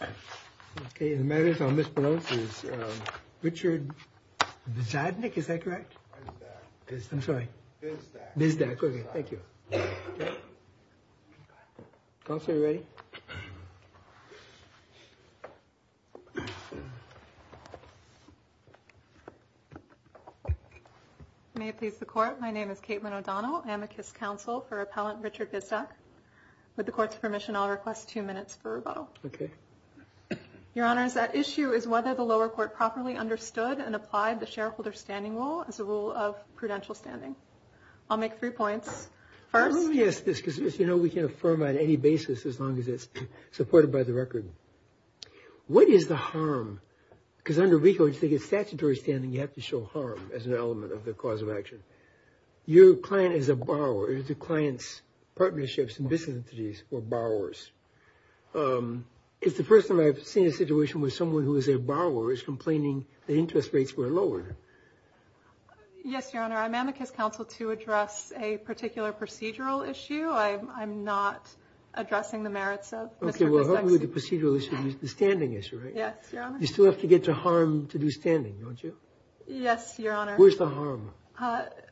OK. The matter is I'll mispronounce his name. Richard Vizadnik, is that correct? Vizdak. I'm sorry. Vizdak. Vizdak. OK. Thank you. Counsel, are you ready? May it please the Court. My name is Katelyn O'Donnell. I'm a KISS Counsel for Appellant Richard Vizdak. With the Court's permission, I'll request two minutes for rebuttal. OK. Your Honors, that issue is whether the lower court properly understood and applied the shareholder standing rule as a rule of prudential standing. I'll make three points. First... Let me ask this because, you know, we can affirm on any basis as long as it's supported by the record. What is the harm? Because under RICO, if they get statutory standing, you have to show harm as an element of the cause of action. Your client is a borrower. If the client's partnerships and business entities were borrowers... It's the first time I've seen a situation where someone who is a borrower is complaining that interest rates were lowered. Yes, Your Honor. I'm at KISS Counsel to address a particular procedural issue. I'm not addressing the merits of Mr. Vizdak's... OK. Well, help me with the procedural issue. The standing issue, right? Yes, Your Honor. You still have to get to harm to do standing, don't you? Yes, Your Honor. Where's the harm?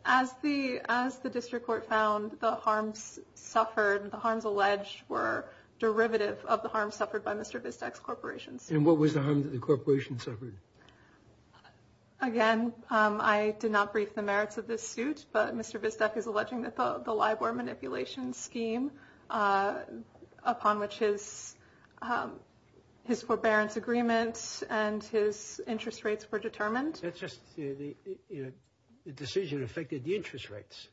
As the district court found, the harms suffered, the harms alleged, were derivative of the harms suffered by Mr. Vizdak's corporations. And what was the harm that the corporations suffered? Again, I did not brief the merits of this suit, but Mr. Vizdak is alleging that the LIBOR manipulation scheme, upon which his forbearance agreements and his interest rates were determined... That's just, you know, the decision affected the interest rates.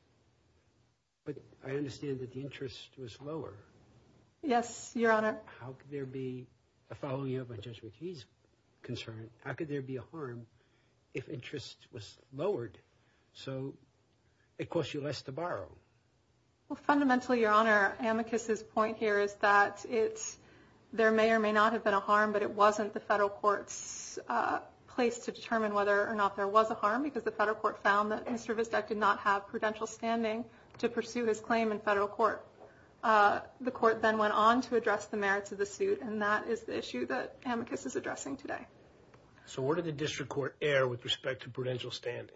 But I understand that the interest was lower. Yes, Your Honor. How could there be, following up on Judge McKee's concern, how could there be a harm if interest was lowered so it cost you less to borrow? Well, fundamentally, Your Honor, Amicus's point here is that there may or may not have been a harm, but it wasn't the federal court's place to determine whether or not there was a harm, because the federal court found that Mr. Vizdak did not have prudential standing to pursue his claim in federal court. The court then went on to address the merits of the suit, and that is the issue that Amicus is addressing today. So where did the district court err with respect to prudential standing?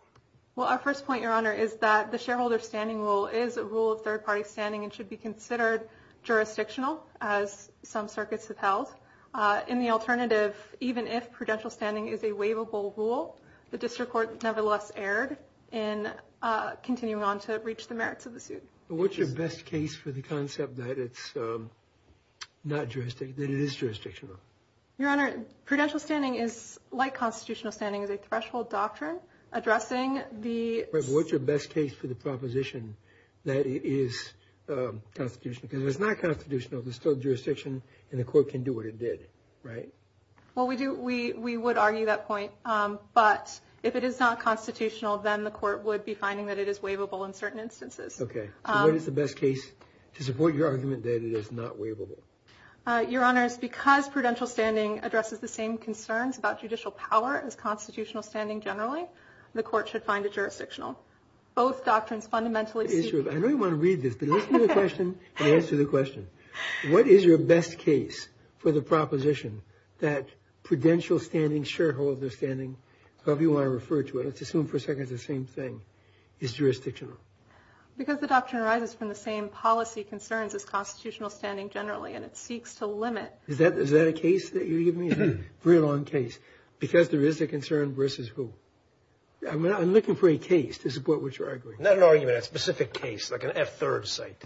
Well, our first point, Your Honor, is that the shareholder standing rule is a rule of third party standing and should be considered jurisdictional, as some circuits have held. In the alternative, even if prudential standing is a waivable rule, the district court nevertheless erred in continuing on to reach the merits of the suit. What's your best case for the concept that it's not jurisdictional, that it is jurisdictional? Your Honor, prudential standing, like constitutional standing, is a threshold doctrine addressing the... But what's your best case for the proposition that it is constitutional? Because if it's not constitutional, there's still jurisdiction, and the court can do what it did, right? Well, we would argue that point, but if it is not constitutional, then the court would be finding that it is waivable in certain instances. Okay. So what is the best case to support your argument that it is not waivable? Your Honors, because prudential standing addresses the same concerns about judicial power as constitutional standing generally, the court should find it jurisdictional. Both doctrines fundamentally... I know you want to read this, but listen to the question and answer the question. What is your best case for the proposition that prudential standing, shareholder standing, however you want to refer to it, let's assume for a second it's the same thing, is jurisdictional? Because the doctrine arises from the same policy concerns as constitutional standing generally, and it seeks to limit... Is that a case that you're giving me? A very long case. Because there is a concern versus who? I'm looking for a case to support what you're arguing. Not an argument, a specific case, like an F-third site.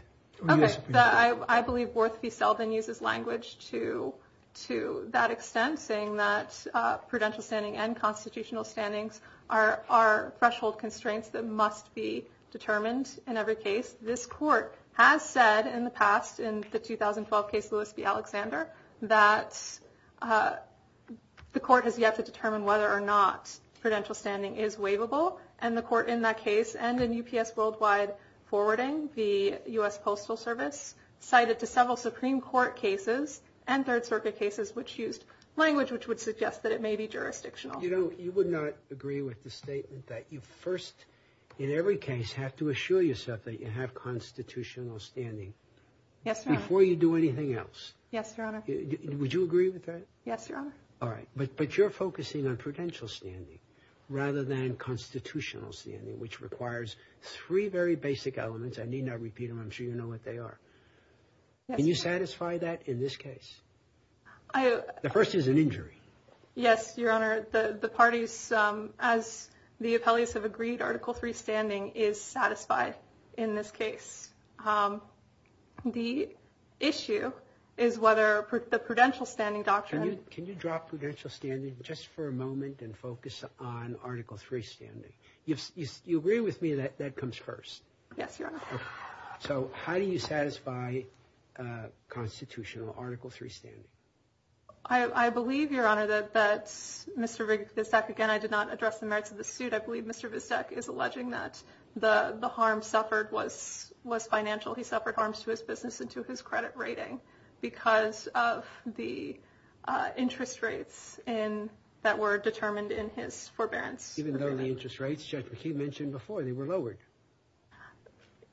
Okay. I believe Worth v. Selvin uses language to that extent, saying that prudential standing and constitutional standings are threshold constraints that must be determined in every case. This court has said in the past, in the 2012 case Lewis v. Alexander, that the court has yet to determine whether or not prudential standing is waivable, and the court in that case and in UPS Worldwide forwarding the U.S. Postal Service cited to several Supreme Court cases and Third Circuit cases which used language which would suggest that it may be jurisdictional. You know, you would not agree with the statement that you first in every case have to assure yourself that you have constitutional standing before you do anything else. Yes, Your Honor. Would you agree with that? Yes, Your Honor. All right. But you're focusing on prudential standing rather than constitutional standing, which requires three very basic elements. I need not repeat them. I'm sure you know what they are. Can you satisfy that in this case? The first is an injury. Yes, Your Honor. The parties, as the appellees have agreed, Article III standing is satisfied in this case. The issue is whether the prudential standing doctrine Can you drop prudential standing just for a moment and focus on Article III standing? You agree with me that that comes first? Yes, Your Honor. So how do you satisfy constitutional Article III standing? I believe, Your Honor, that Mr. Vizdech, again, I did not address the merits of the suit. I believe Mr. Vizdech is alleging that the harm suffered was financial. He suffered harms to his business and to his credit rating because of the interest rates that were determined in his forbearance. Even though the interest rates, Judge McKee mentioned before, they were lowered.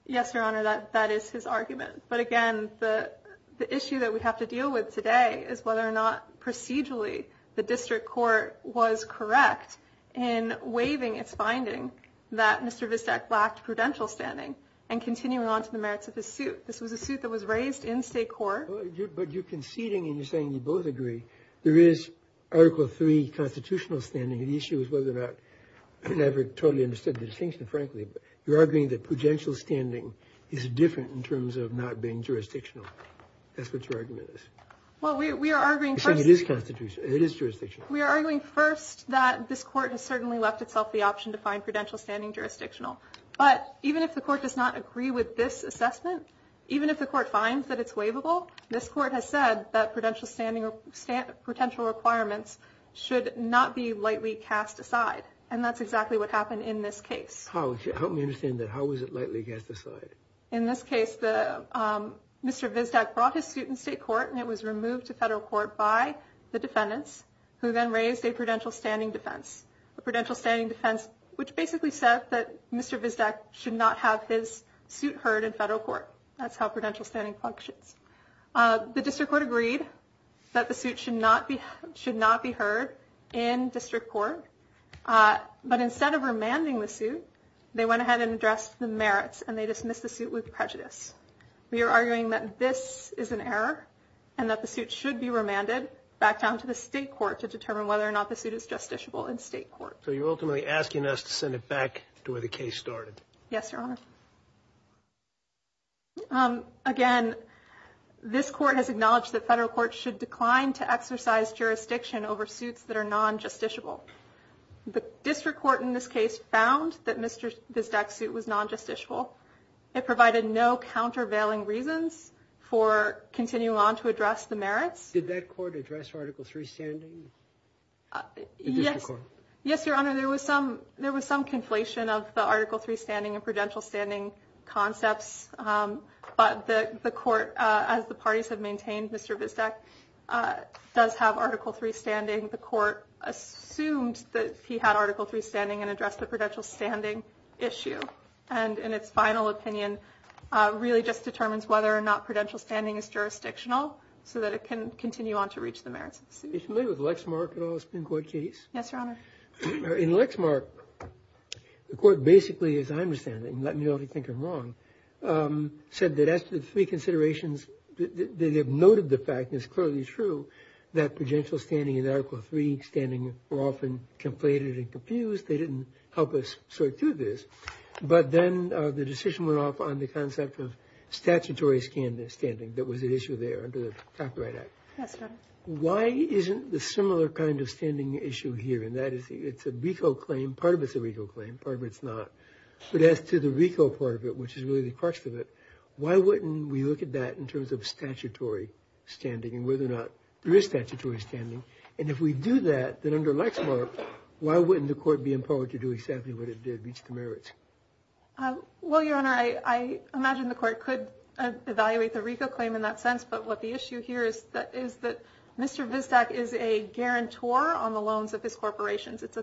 Yes, Your Honor, that is his argument. But again, the issue that we have to deal with today is whether or not procedurally the district court was correct in waiving its finding that Mr. Vizdech lacked prudential standing and continuing on to the merits of his suit. This was a suit that was raised in state court. But you're conceding and you're saying you both agree there is Article III constitutional standing. The issue is whether or not I never totally understood the distinction, frankly. You're arguing that prudential standing is different in terms of not being jurisdictional. That's what your argument is. Well, we are arguing first. It is jurisdictional. We are arguing first that this court has certainly left itself the option to find prudential standing jurisdictional. But even if the court does not agree with this assessment, even if the court finds that it's waivable, this court has said that prudential standing or prudential requirements should not be lightly cast aside. And that's exactly what happened in this case. Help me understand that. How was it lightly cast aside? In this case, Mr. Vizdech brought his suit in state court and it was removed to federal court by the defendants, who then raised a prudential standing defense. A prudential standing defense, which basically said that Mr. Vizdech should not have his suit heard in federal court. That's how prudential standing functions. The district court agreed that the suit should not be heard in district court. But instead of remanding the suit, they went ahead and addressed the merits and they dismissed the suit with prejudice. We are arguing that this is an error and that the suit should be remanded back down to the state court to determine whether or not the suit is justiciable in state court. So you're ultimately asking us to send it back to where the case started. Yes, Your Honor. Again, this court has acknowledged that federal court should decline to exercise jurisdiction over suits that are non-justiciable. The district court in this case found that Mr. Vizdech's suit was non-justiciable. It provided no countervailing reasons for continuing on to address the merits. Did that court address Article III standing? Yes, Your Honor. Your Honor, there was some conflation of the Article III standing and prudential standing concepts. But the court, as the parties have maintained, Mr. Vizdech does have Article III standing. The court assumed that he had Article III standing and addressed the prudential standing issue. And in its final opinion, really just determines whether or not prudential standing is jurisdictional so that it can continue on to reach the merits of the suit. Are you familiar with Lexmark at all? It's been quite a case. Yes, Your Honor. In Lexmark, the court basically, as I understand it, and let me know if you think I'm wrong, said that as to the three considerations, they have noted the fact, and it's clearly true, that prudential standing and Article III standing were often conflated and confused. They didn't help us sort through this. But then the decision went off on the concept of statutory standing. That was an issue there under the Copyright Act. Yes, Your Honor. Why isn't the similar kind of standing issue here? And that is it's a RICO claim. Part of it's a RICO claim. Part of it's not. But as to the RICO part of it, which is really the crux of it, why wouldn't we look at that in terms of statutory standing and whether or not there is statutory standing? And if we do that, then under Lexmark, why wouldn't the court be empowered to do exactly what it did, reach the merits? Well, Your Honor, I imagine the court could evaluate the RICO claim in that sense. But what the issue here is that Mr. Vizdak is a guarantor on the loans of his corporations. It's a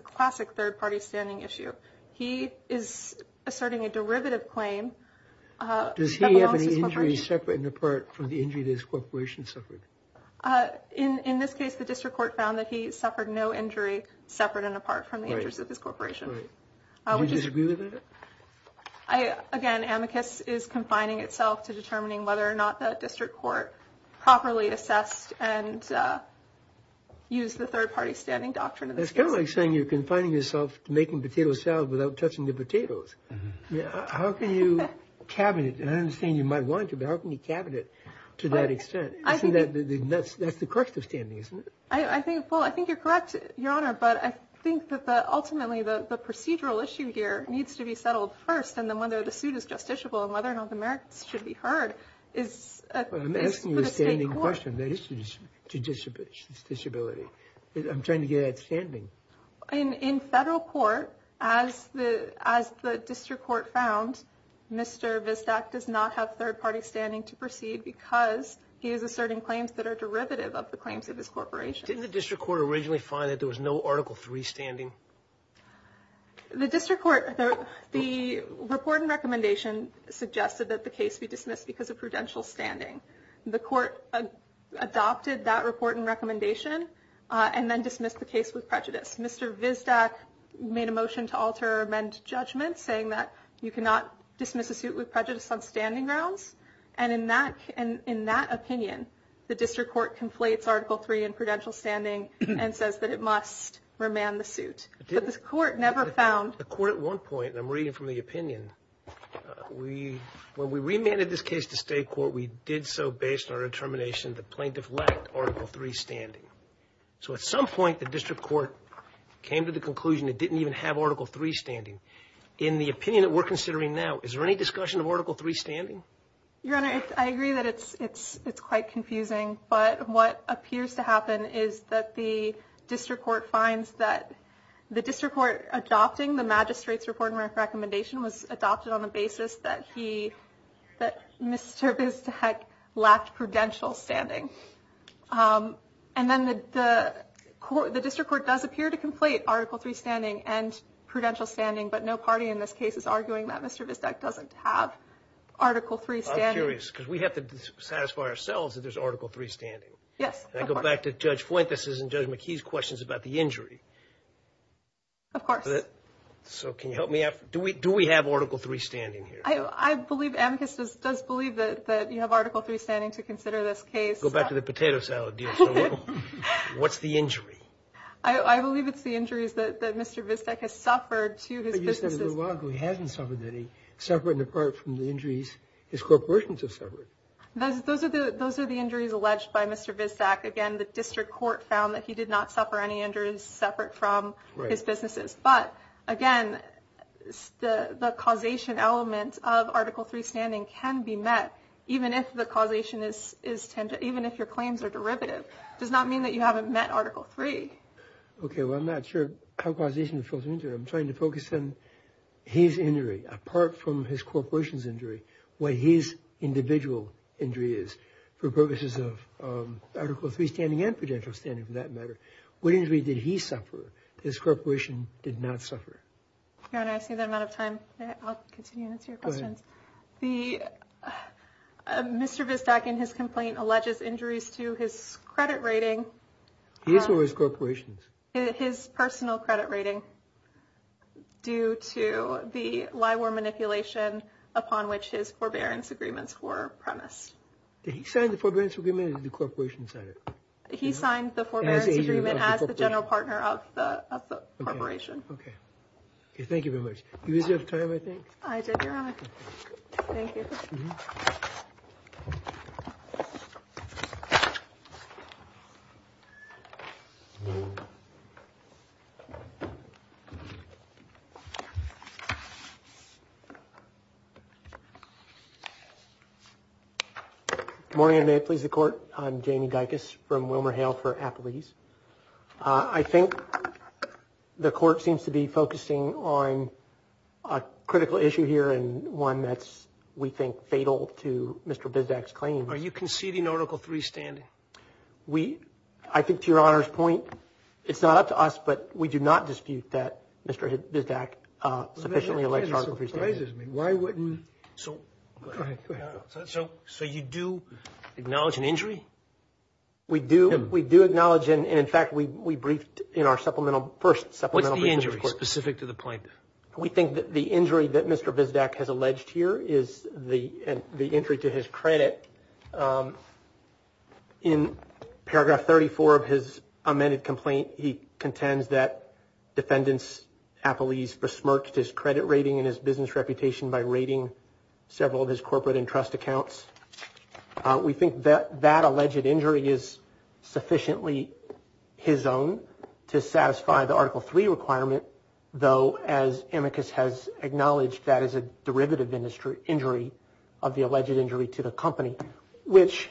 classic third-party standing issue. He is asserting a derivative claim. Does he have an injury separate and apart from the injury his corporation suffered? In this case, the district court found that he suffered no injury separate and apart from the injuries of his corporation. Do you disagree with that? Again, amicus is confining itself to determining whether or not the district court properly assessed and used the third-party standing doctrine. It's kind of like saying you're confining yourself to making potato salad without touching the potatoes. How can you cabinet? I understand you might want to, but how can you cabinet to that extent? That's the crux of standing, isn't it? I think you're correct, Your Honor. But I think that ultimately the procedural issue here needs to be settled first. And then whether the suit is justiciable and whether North Americans should be heard is for the state court. I'm asking you a standing question. That is judicious disability. I'm trying to get at standing. In federal court, as the district court found, Mr. Vizdak does not have third-party standing to proceed because he is asserting claims that are derivative of the claims of his corporation. Didn't the district court originally find that there was no Article III standing? The district court, the report and recommendation suggested that the case be dismissed because of prudential standing. The court adopted that report and recommendation and then dismissed the case with prejudice. Mr. Vizdak made a motion to alter or amend judgment saying that you cannot dismiss a suit with prejudice on standing grounds. And in that opinion, the district court conflates Article III and prudential standing and says that it must remand the suit. But the court never found. The court at one point, and I'm reading from the opinion, when we remanded this case to state court, we did so based on our determination the plaintiff lacked Article III standing. So at some point, the district court came to the conclusion it didn't even have Article III standing. In the opinion that we're considering now, is there any discussion of Article III standing? Your Honor, I agree that it's quite confusing. But what appears to happen is that the district court finds that the district court adopting the magistrate's report and recommendation was adopted on the basis that he, that Mr. Vizdak lacked prudential standing. And then the district court does appear to conflate Article III standing and prudential standing, but no party in this case is arguing that Mr. Vizdak doesn't have Article III standing. I'm curious because we have to satisfy ourselves that there's Article III standing. Yes. And I go back to Judge Fuentes' and Judge McKee's questions about the injury. Of course. So can you help me out? Do we have Article III standing here? I believe amicus does believe that you have Article III standing to consider this case. Let's go back to the potato salad deal. What's the injury? I believe it's the injuries that Mr. Vizdak has suffered to his businesses. But you said a little while ago he hasn't suffered any suffering apart from the injuries his corporations have suffered. Those are the injuries alleged by Mr. Vizdak. Again, the district court found that he did not suffer any injuries separate from his businesses. But, again, the causation element of Article III standing can be met even if the causation is tended, even if your claims are derivative. It does not mean that you haven't met Article III. Okay. Well, I'm not sure how causation falls into it. I'm trying to focus on his injury apart from his corporation's injury, what his individual injury is for purposes of Article III standing and prudential standing for that matter. What injury did he suffer? His corporation did not suffer. Your Honor, I see that I'm out of time. I'll continue and answer your questions. Go ahead. Mr. Vizdak, in his complaint, alleges injuries to his credit rating. His or his corporation's? His personal credit rating due to the LIWR manipulation upon which his forbearance agreements were premised. Did he sign the forbearance agreement or did the corporation sign it? He signed the forbearance agreement as the general partner of the corporation. Okay. Okay. Thank you very much. You still have time, I think. I do, Your Honor. Thank you. Good morning, and may it please the Court. I'm Jamie Dicus from WilmerHale for Appalese. I think the Court seems to be focusing on a critical issue here and one that's, we think, fatal to Mr. Vizdak's claim. Are you conceding Article III standing? I think, to Your Honor's point, it's not up to us, but we do not dispute that Mr. Vizdak sufficiently elects Article III standing. That surprises me. Why wouldn't? Go ahead. So you do acknowledge an injury? We do. We do acknowledge and, in fact, we briefed in our supplemental, first supplemental briefings. What's the injury specific to the plaintiff? We think that the injury that Mr. Vizdak has alleged here is the injury to his credit. In paragraph 34 of his amended complaint, he contends that defendants, Appalese, besmirched his credit rating and his business reputation by raiding several of his corporate and trust accounts. We think that that alleged injury is sufficiently his own to satisfy the Article III requirement, though, as amicus has acknowledged, that is a derivative injury of the alleged injury to the company, which,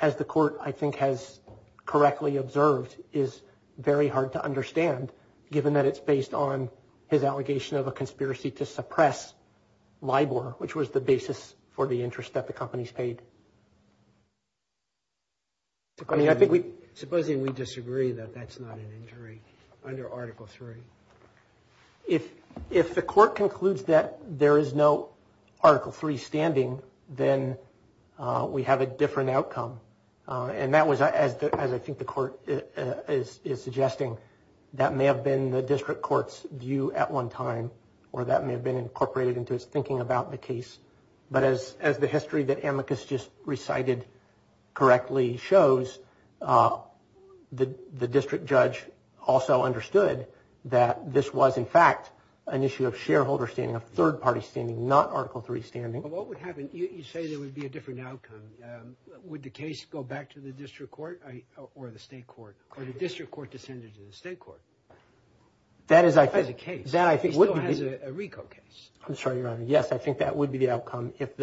as the court, I think, has correctly observed, is very hard to understand, given that it's based on his allegation of a conspiracy to suppress LIBOR, which was the basis for the interest that the companies paid. Supposing we disagree that that's not an injury under Article III? If the court concludes that there is no Article III standing, then we have a different outcome. And that was, as I think the court is suggesting, that may have been the district court's view at one time, or that may have been incorporated into its thinking about the case. But as the history that amicus just recited correctly shows, the district judge also understood that this was, in fact, an issue of shareholder standing, of third-party standing, not Article III standing. But what would happen, you say there would be a different outcome. Would the case go back to the district court or the state court, or the district court descended to the state court? That is, I think, that I think would be. It still has a RICO case. I'm sorry, Your Honor. Yes, I think that would be the outcome. If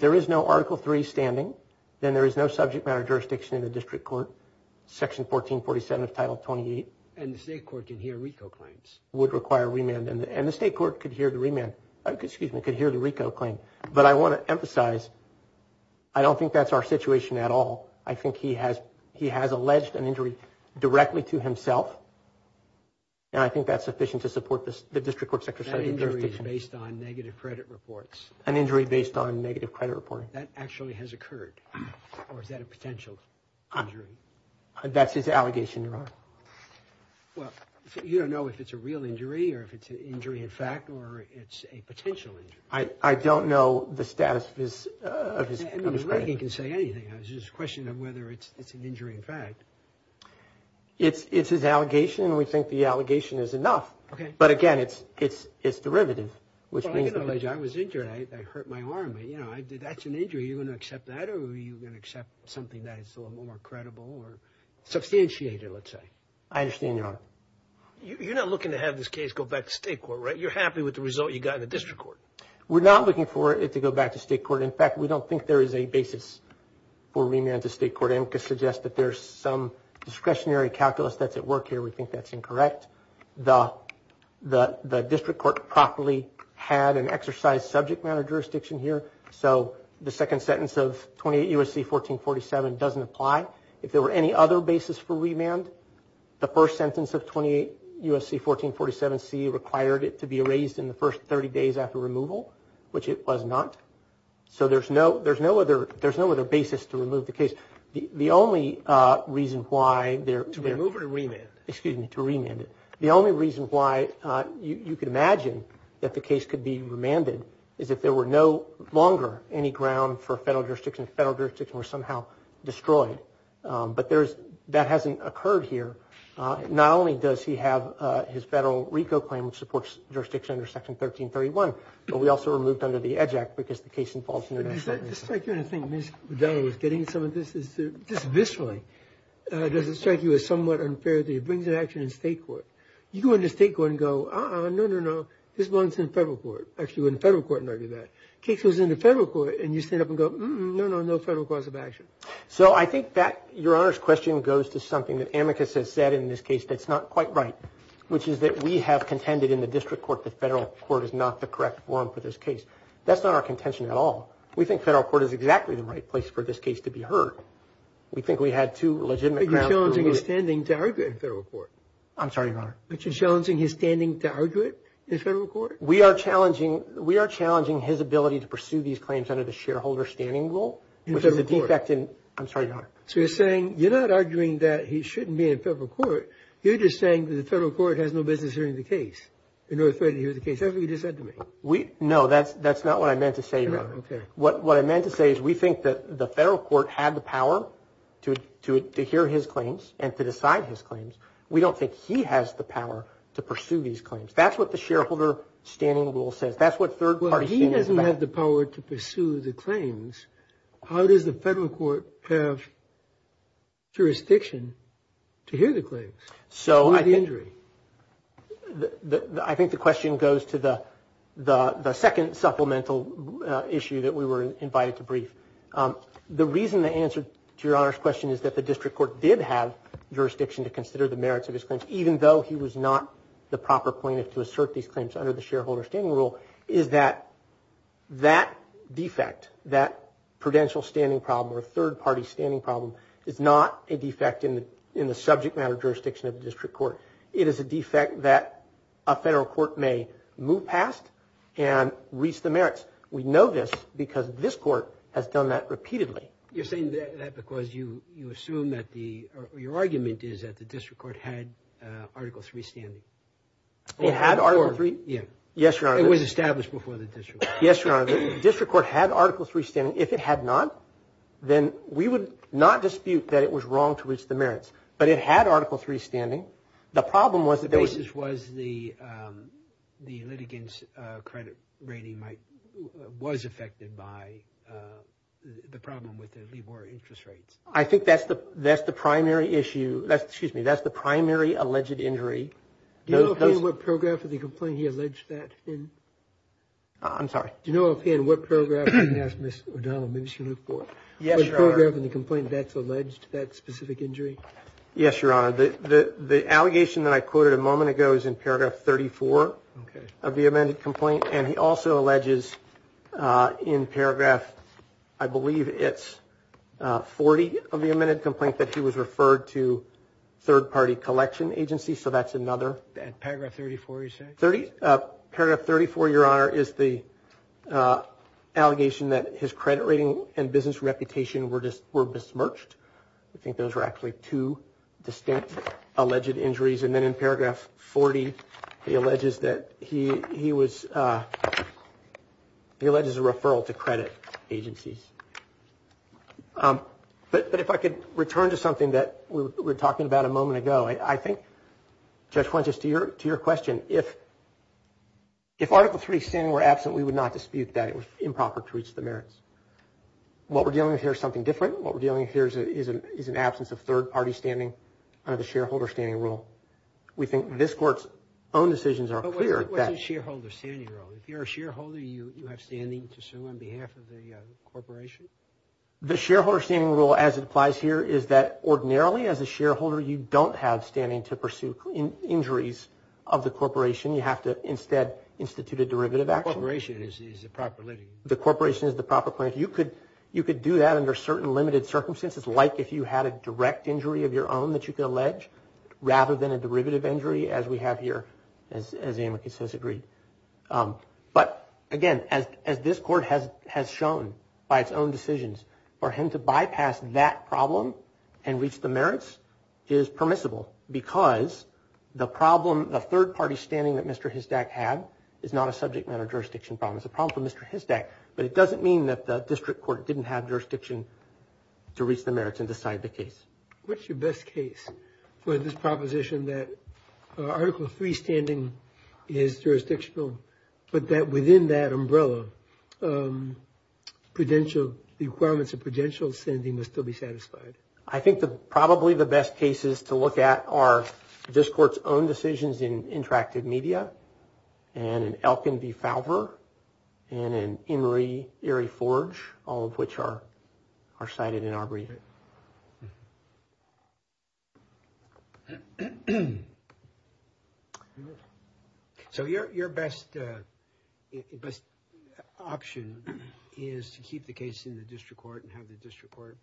there is no Article III standing, then there is no subject matter jurisdiction in the district court, Section 1447 of Title 28. And the state court can hear RICO claims. Would require remand. And the state court could hear the RICO claim. But I want to emphasize, I don't think that's our situation at all. I think he has alleged an injury directly to himself, and I think that's sufficient to support the district court's jurisdiction. An injury based on negative credit reports. An injury based on negative credit reporting. That actually has occurred. Or is that a potential injury? That's his allegation, Your Honor. Well, you don't know if it's a real injury or if it's an injury in fact or it's a potential injury. I don't know the status of his credit. I mean, Reagan can say anything. It's just a question of whether it's an injury in fact. It's his allegation, and we think the allegation is enough. Okay. But again, it's derivative. I was injured. I hurt my arm. That's an injury. Are you going to accept that, or are you going to accept something that is more credible or substantiated, let's say? I understand, Your Honor. You're not looking to have this case go back to state court, right? You're happy with the result you got in the district court. We're not looking for it to go back to state court. In fact, we don't think there is a basis for remand to state court. I'm going to suggest that there's some discretionary calculus that's at work here. We think that's incorrect. The district court properly had an exercise subject matter jurisdiction here, so the second sentence of 28 U.S.C. 1447 doesn't apply. If there were any other basis for remand, the first sentence of 28 U.S.C. 1447C required it to be erased in the first 30 days after removal, which it was not. So there's no other basis to remove the case. The only reason why there – To remove or remand? Excuse me, to remand it. The only reason why you could imagine that the case could be remanded is if there were no longer any ground for federal jurisdiction, if federal jurisdiction were somehow destroyed. But there's – that hasn't occurred here. Not only does he have his federal RICO claim, which supports jurisdiction under Section 1331, but we also removed under the EDGE Act because the case involves international – Does that strike you in a thing? Ms. O'Donnell was getting some of this. Just viscerally, does it strike you as somewhat unfair that he brings an action in state court? You go into state court and go, uh-uh, no, no, no, this one's in federal court. Actually, we're in federal court and argue that. Case goes into federal court and you stand up and go, no, no, no federal cause of action. So I think that Your Honor's question goes to something that Amicus has said in this case that's not quite right, which is that we have contended in the district court that federal court is not the correct forum for this case. That's not our contention at all. We think federal court is exactly the right place for this case to be heard. We think we had two legitimate grounds to remove it. But you're challenging his standing to argue it in federal court. I'm sorry, Your Honor. But you're challenging his standing to argue it in federal court? We are challenging – we are challenging his ability to pursue these claims under the shareholder standing rule, which is a defect in – In federal court. I'm sorry, Your Honor. So you're saying – you're not arguing that he shouldn't be in federal court. You're just saying that the federal court has no business hearing the case in order to threaten to hear the case. That's what you just said to me. We – no, that's not what I meant to say, Your Honor. Okay. What I meant to say is we think that the federal court had the power to hear his claims and to decide his claims. We don't think he has the power to pursue these claims. That's what the shareholder standing rule says. That's what third-party standing is about. Well, he doesn't have the power to pursue the claims. How does the federal court have jurisdiction to hear the claims? So I think – Or the injury? I think the question goes to the second supplemental issue that we were invited to brief. The reason the answer to Your Honor's question is that the district court did have jurisdiction to consider the merits of his claims, even though he was not the proper plaintiff to assert these claims under the shareholder standing rule, is that that defect, that prudential standing problem or third-party standing problem, is not a defect in the subject matter jurisdiction of the district court. It is a defect that a federal court may move past and reach the merits. We know this because this court has done that repeatedly. You're saying that because you assume that the – or your argument is that the district court had Article III standing. It had Article III. Yes, Your Honor. It was established before the district court. Yes, Your Honor. The district court had Article III standing. If it had not, then we would not dispute that it was wrong to reach the merits. But it had Article III standing. The problem was that there was – The basis was the litigant's credit rating might – was affected by the problem with the LIBOR interest rates. I think that's the primary issue – excuse me, that's the primary alleged injury. Do you know offhand what paragraph of the complaint he alleged that in? I'm sorry? Do you know offhand what paragraph – I'm going to ask Ms. O'Donnell. Maybe she can look for it. Yes, Your Honor. Is there a paragraph in the complaint that's alleged that specific injury? Yes, Your Honor. The allegation that I quoted a moment ago is in paragraph 34 of the amended complaint, and he also alleges in paragraph, I believe it's 40 of the amended complaint, that he was referred to third-party collection agencies. So that's another – Paragraph 34, you said? Paragraph 34, Your Honor, is the allegation that his credit rating and business reputation were besmirched. I think those were actually two distinct alleged injuries. And then in paragraph 40, he alleges that he was – he alleges a referral to credit agencies. But if I could return to something that we were talking about a moment ago, I think, Judge Quintus, to your question, if Article III standing were absent, we would not dispute that it was improper to reach the merits. What we're dealing with here is something different. What we're dealing with here is an absence of third-party standing under the shareholder standing rule. We think this Court's own decisions are clear that – But what's the shareholder standing rule? If you're a shareholder, you have standing to sue on behalf of the corporation? The shareholder standing rule, as it applies here, is that ordinarily, as a shareholder, you don't have standing to pursue injuries of the corporation. You have to instead institute a derivative action. The corporation is the proper living. The corporation is the proper living. You could do that under certain limited circumstances, like if you had a direct injury of your own that you could allege, rather than a derivative injury, as we have here, as Amicus has agreed. But, again, as this Court has shown by its own decisions, for him to bypass that problem and reach the merits is permissible because the third-party standing that Mr. Hizdak had is not a subject matter jurisdiction problem. It's a problem for Mr. Hizdak, but it doesn't mean that the district court didn't have jurisdiction to reach the merits and decide the case. What's your best case for this proposition that Article III standing is jurisdictional, but that within that umbrella, the requirements of prudential standing must still be satisfied? I think probably the best cases to look at are this Court's own decisions in interactive media and in Elkin v. Falver and in Emory v. Forge, all of which are cited in our reading. Okay. So your best option is to keep the case in the district court and have the district court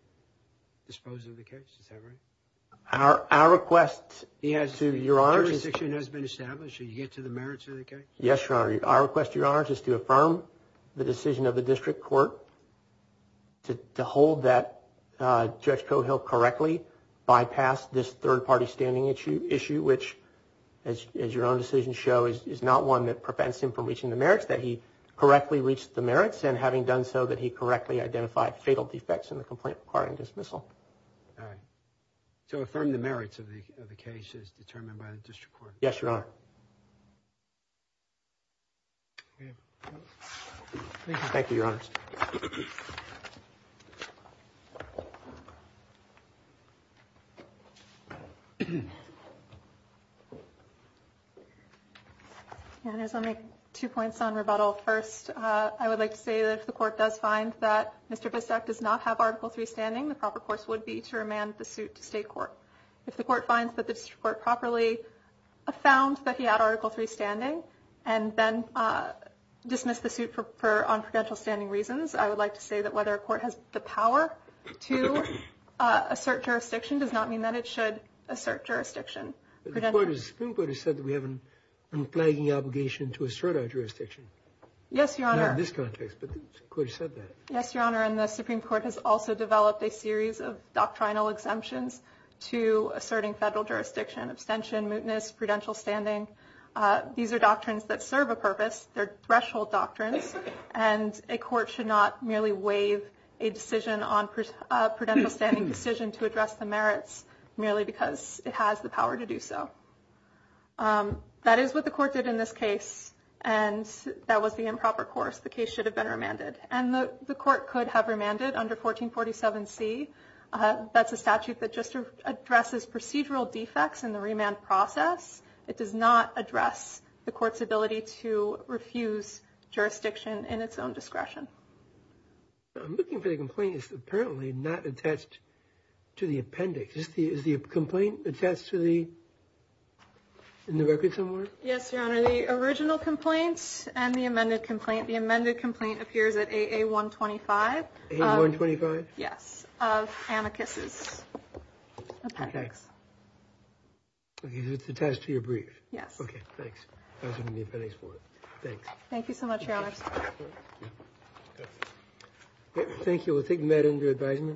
dispose of the case? Is that right? Our request to Your Honor is... The jurisdiction has been established. Did you get to the merits of the case? Yes, Your Honor. Our request to Your Honor is to affirm the decision of the district court to hold that Judge Cohill correctly bypassed this third-party standing issue, which, as your own decisions show, is not one that prevents him from reaching the merits, that he correctly reached the merits, and having done so, that he correctly identified fatal defects in the complaint requiring dismissal. All right. To affirm the merits of the case is determined by the district court? Yes, Your Honor. Thank you, Your Honors. Your Honors, I'll make two points on rebuttal. First, I would like to say that if the court does find that Mr. Bissac does not have Article III standing, the proper course would be to remand the suit to state court. And then dismiss the suit on prudential standing reasons. I would like to say that whether a court has the power to assert jurisdiction does not mean that it should assert jurisdiction. The Supreme Court has said that we have an unflagging obligation to assert our jurisdiction. Yes, Your Honor. Not in this context, but the court has said that. Yes, Your Honor, and the Supreme Court has also developed a series of doctrinal exemptions to asserting federal jurisdiction. Abstention, mootness, prudential standing. These are doctrines that serve a purpose. They're threshold doctrines. And a court should not merely waive a decision on prudential standing decision to address the merits merely because it has the power to do so. That is what the court did in this case, and that was the improper course. The case should have been remanded. And the court could have remanded under 1447C. That's a statute that just addresses procedural defects in the remand process. It does not address the court's ability to refuse jurisdiction in its own discretion. I'm looking for the complaint that's apparently not attached to the appendix. Is the complaint attached to the records somewhere? Yes, Your Honor. The original complaint and the amended complaint. The amended complaint appears at AA125. AA125? Yes, of amicus's appendix. Okay. It's attached to your brief? Yes. Okay, thanks. I was going to need appendix one. Thanks. Thank you so much, Your Honor. Thank you. Thank you. We'll take that under advisement.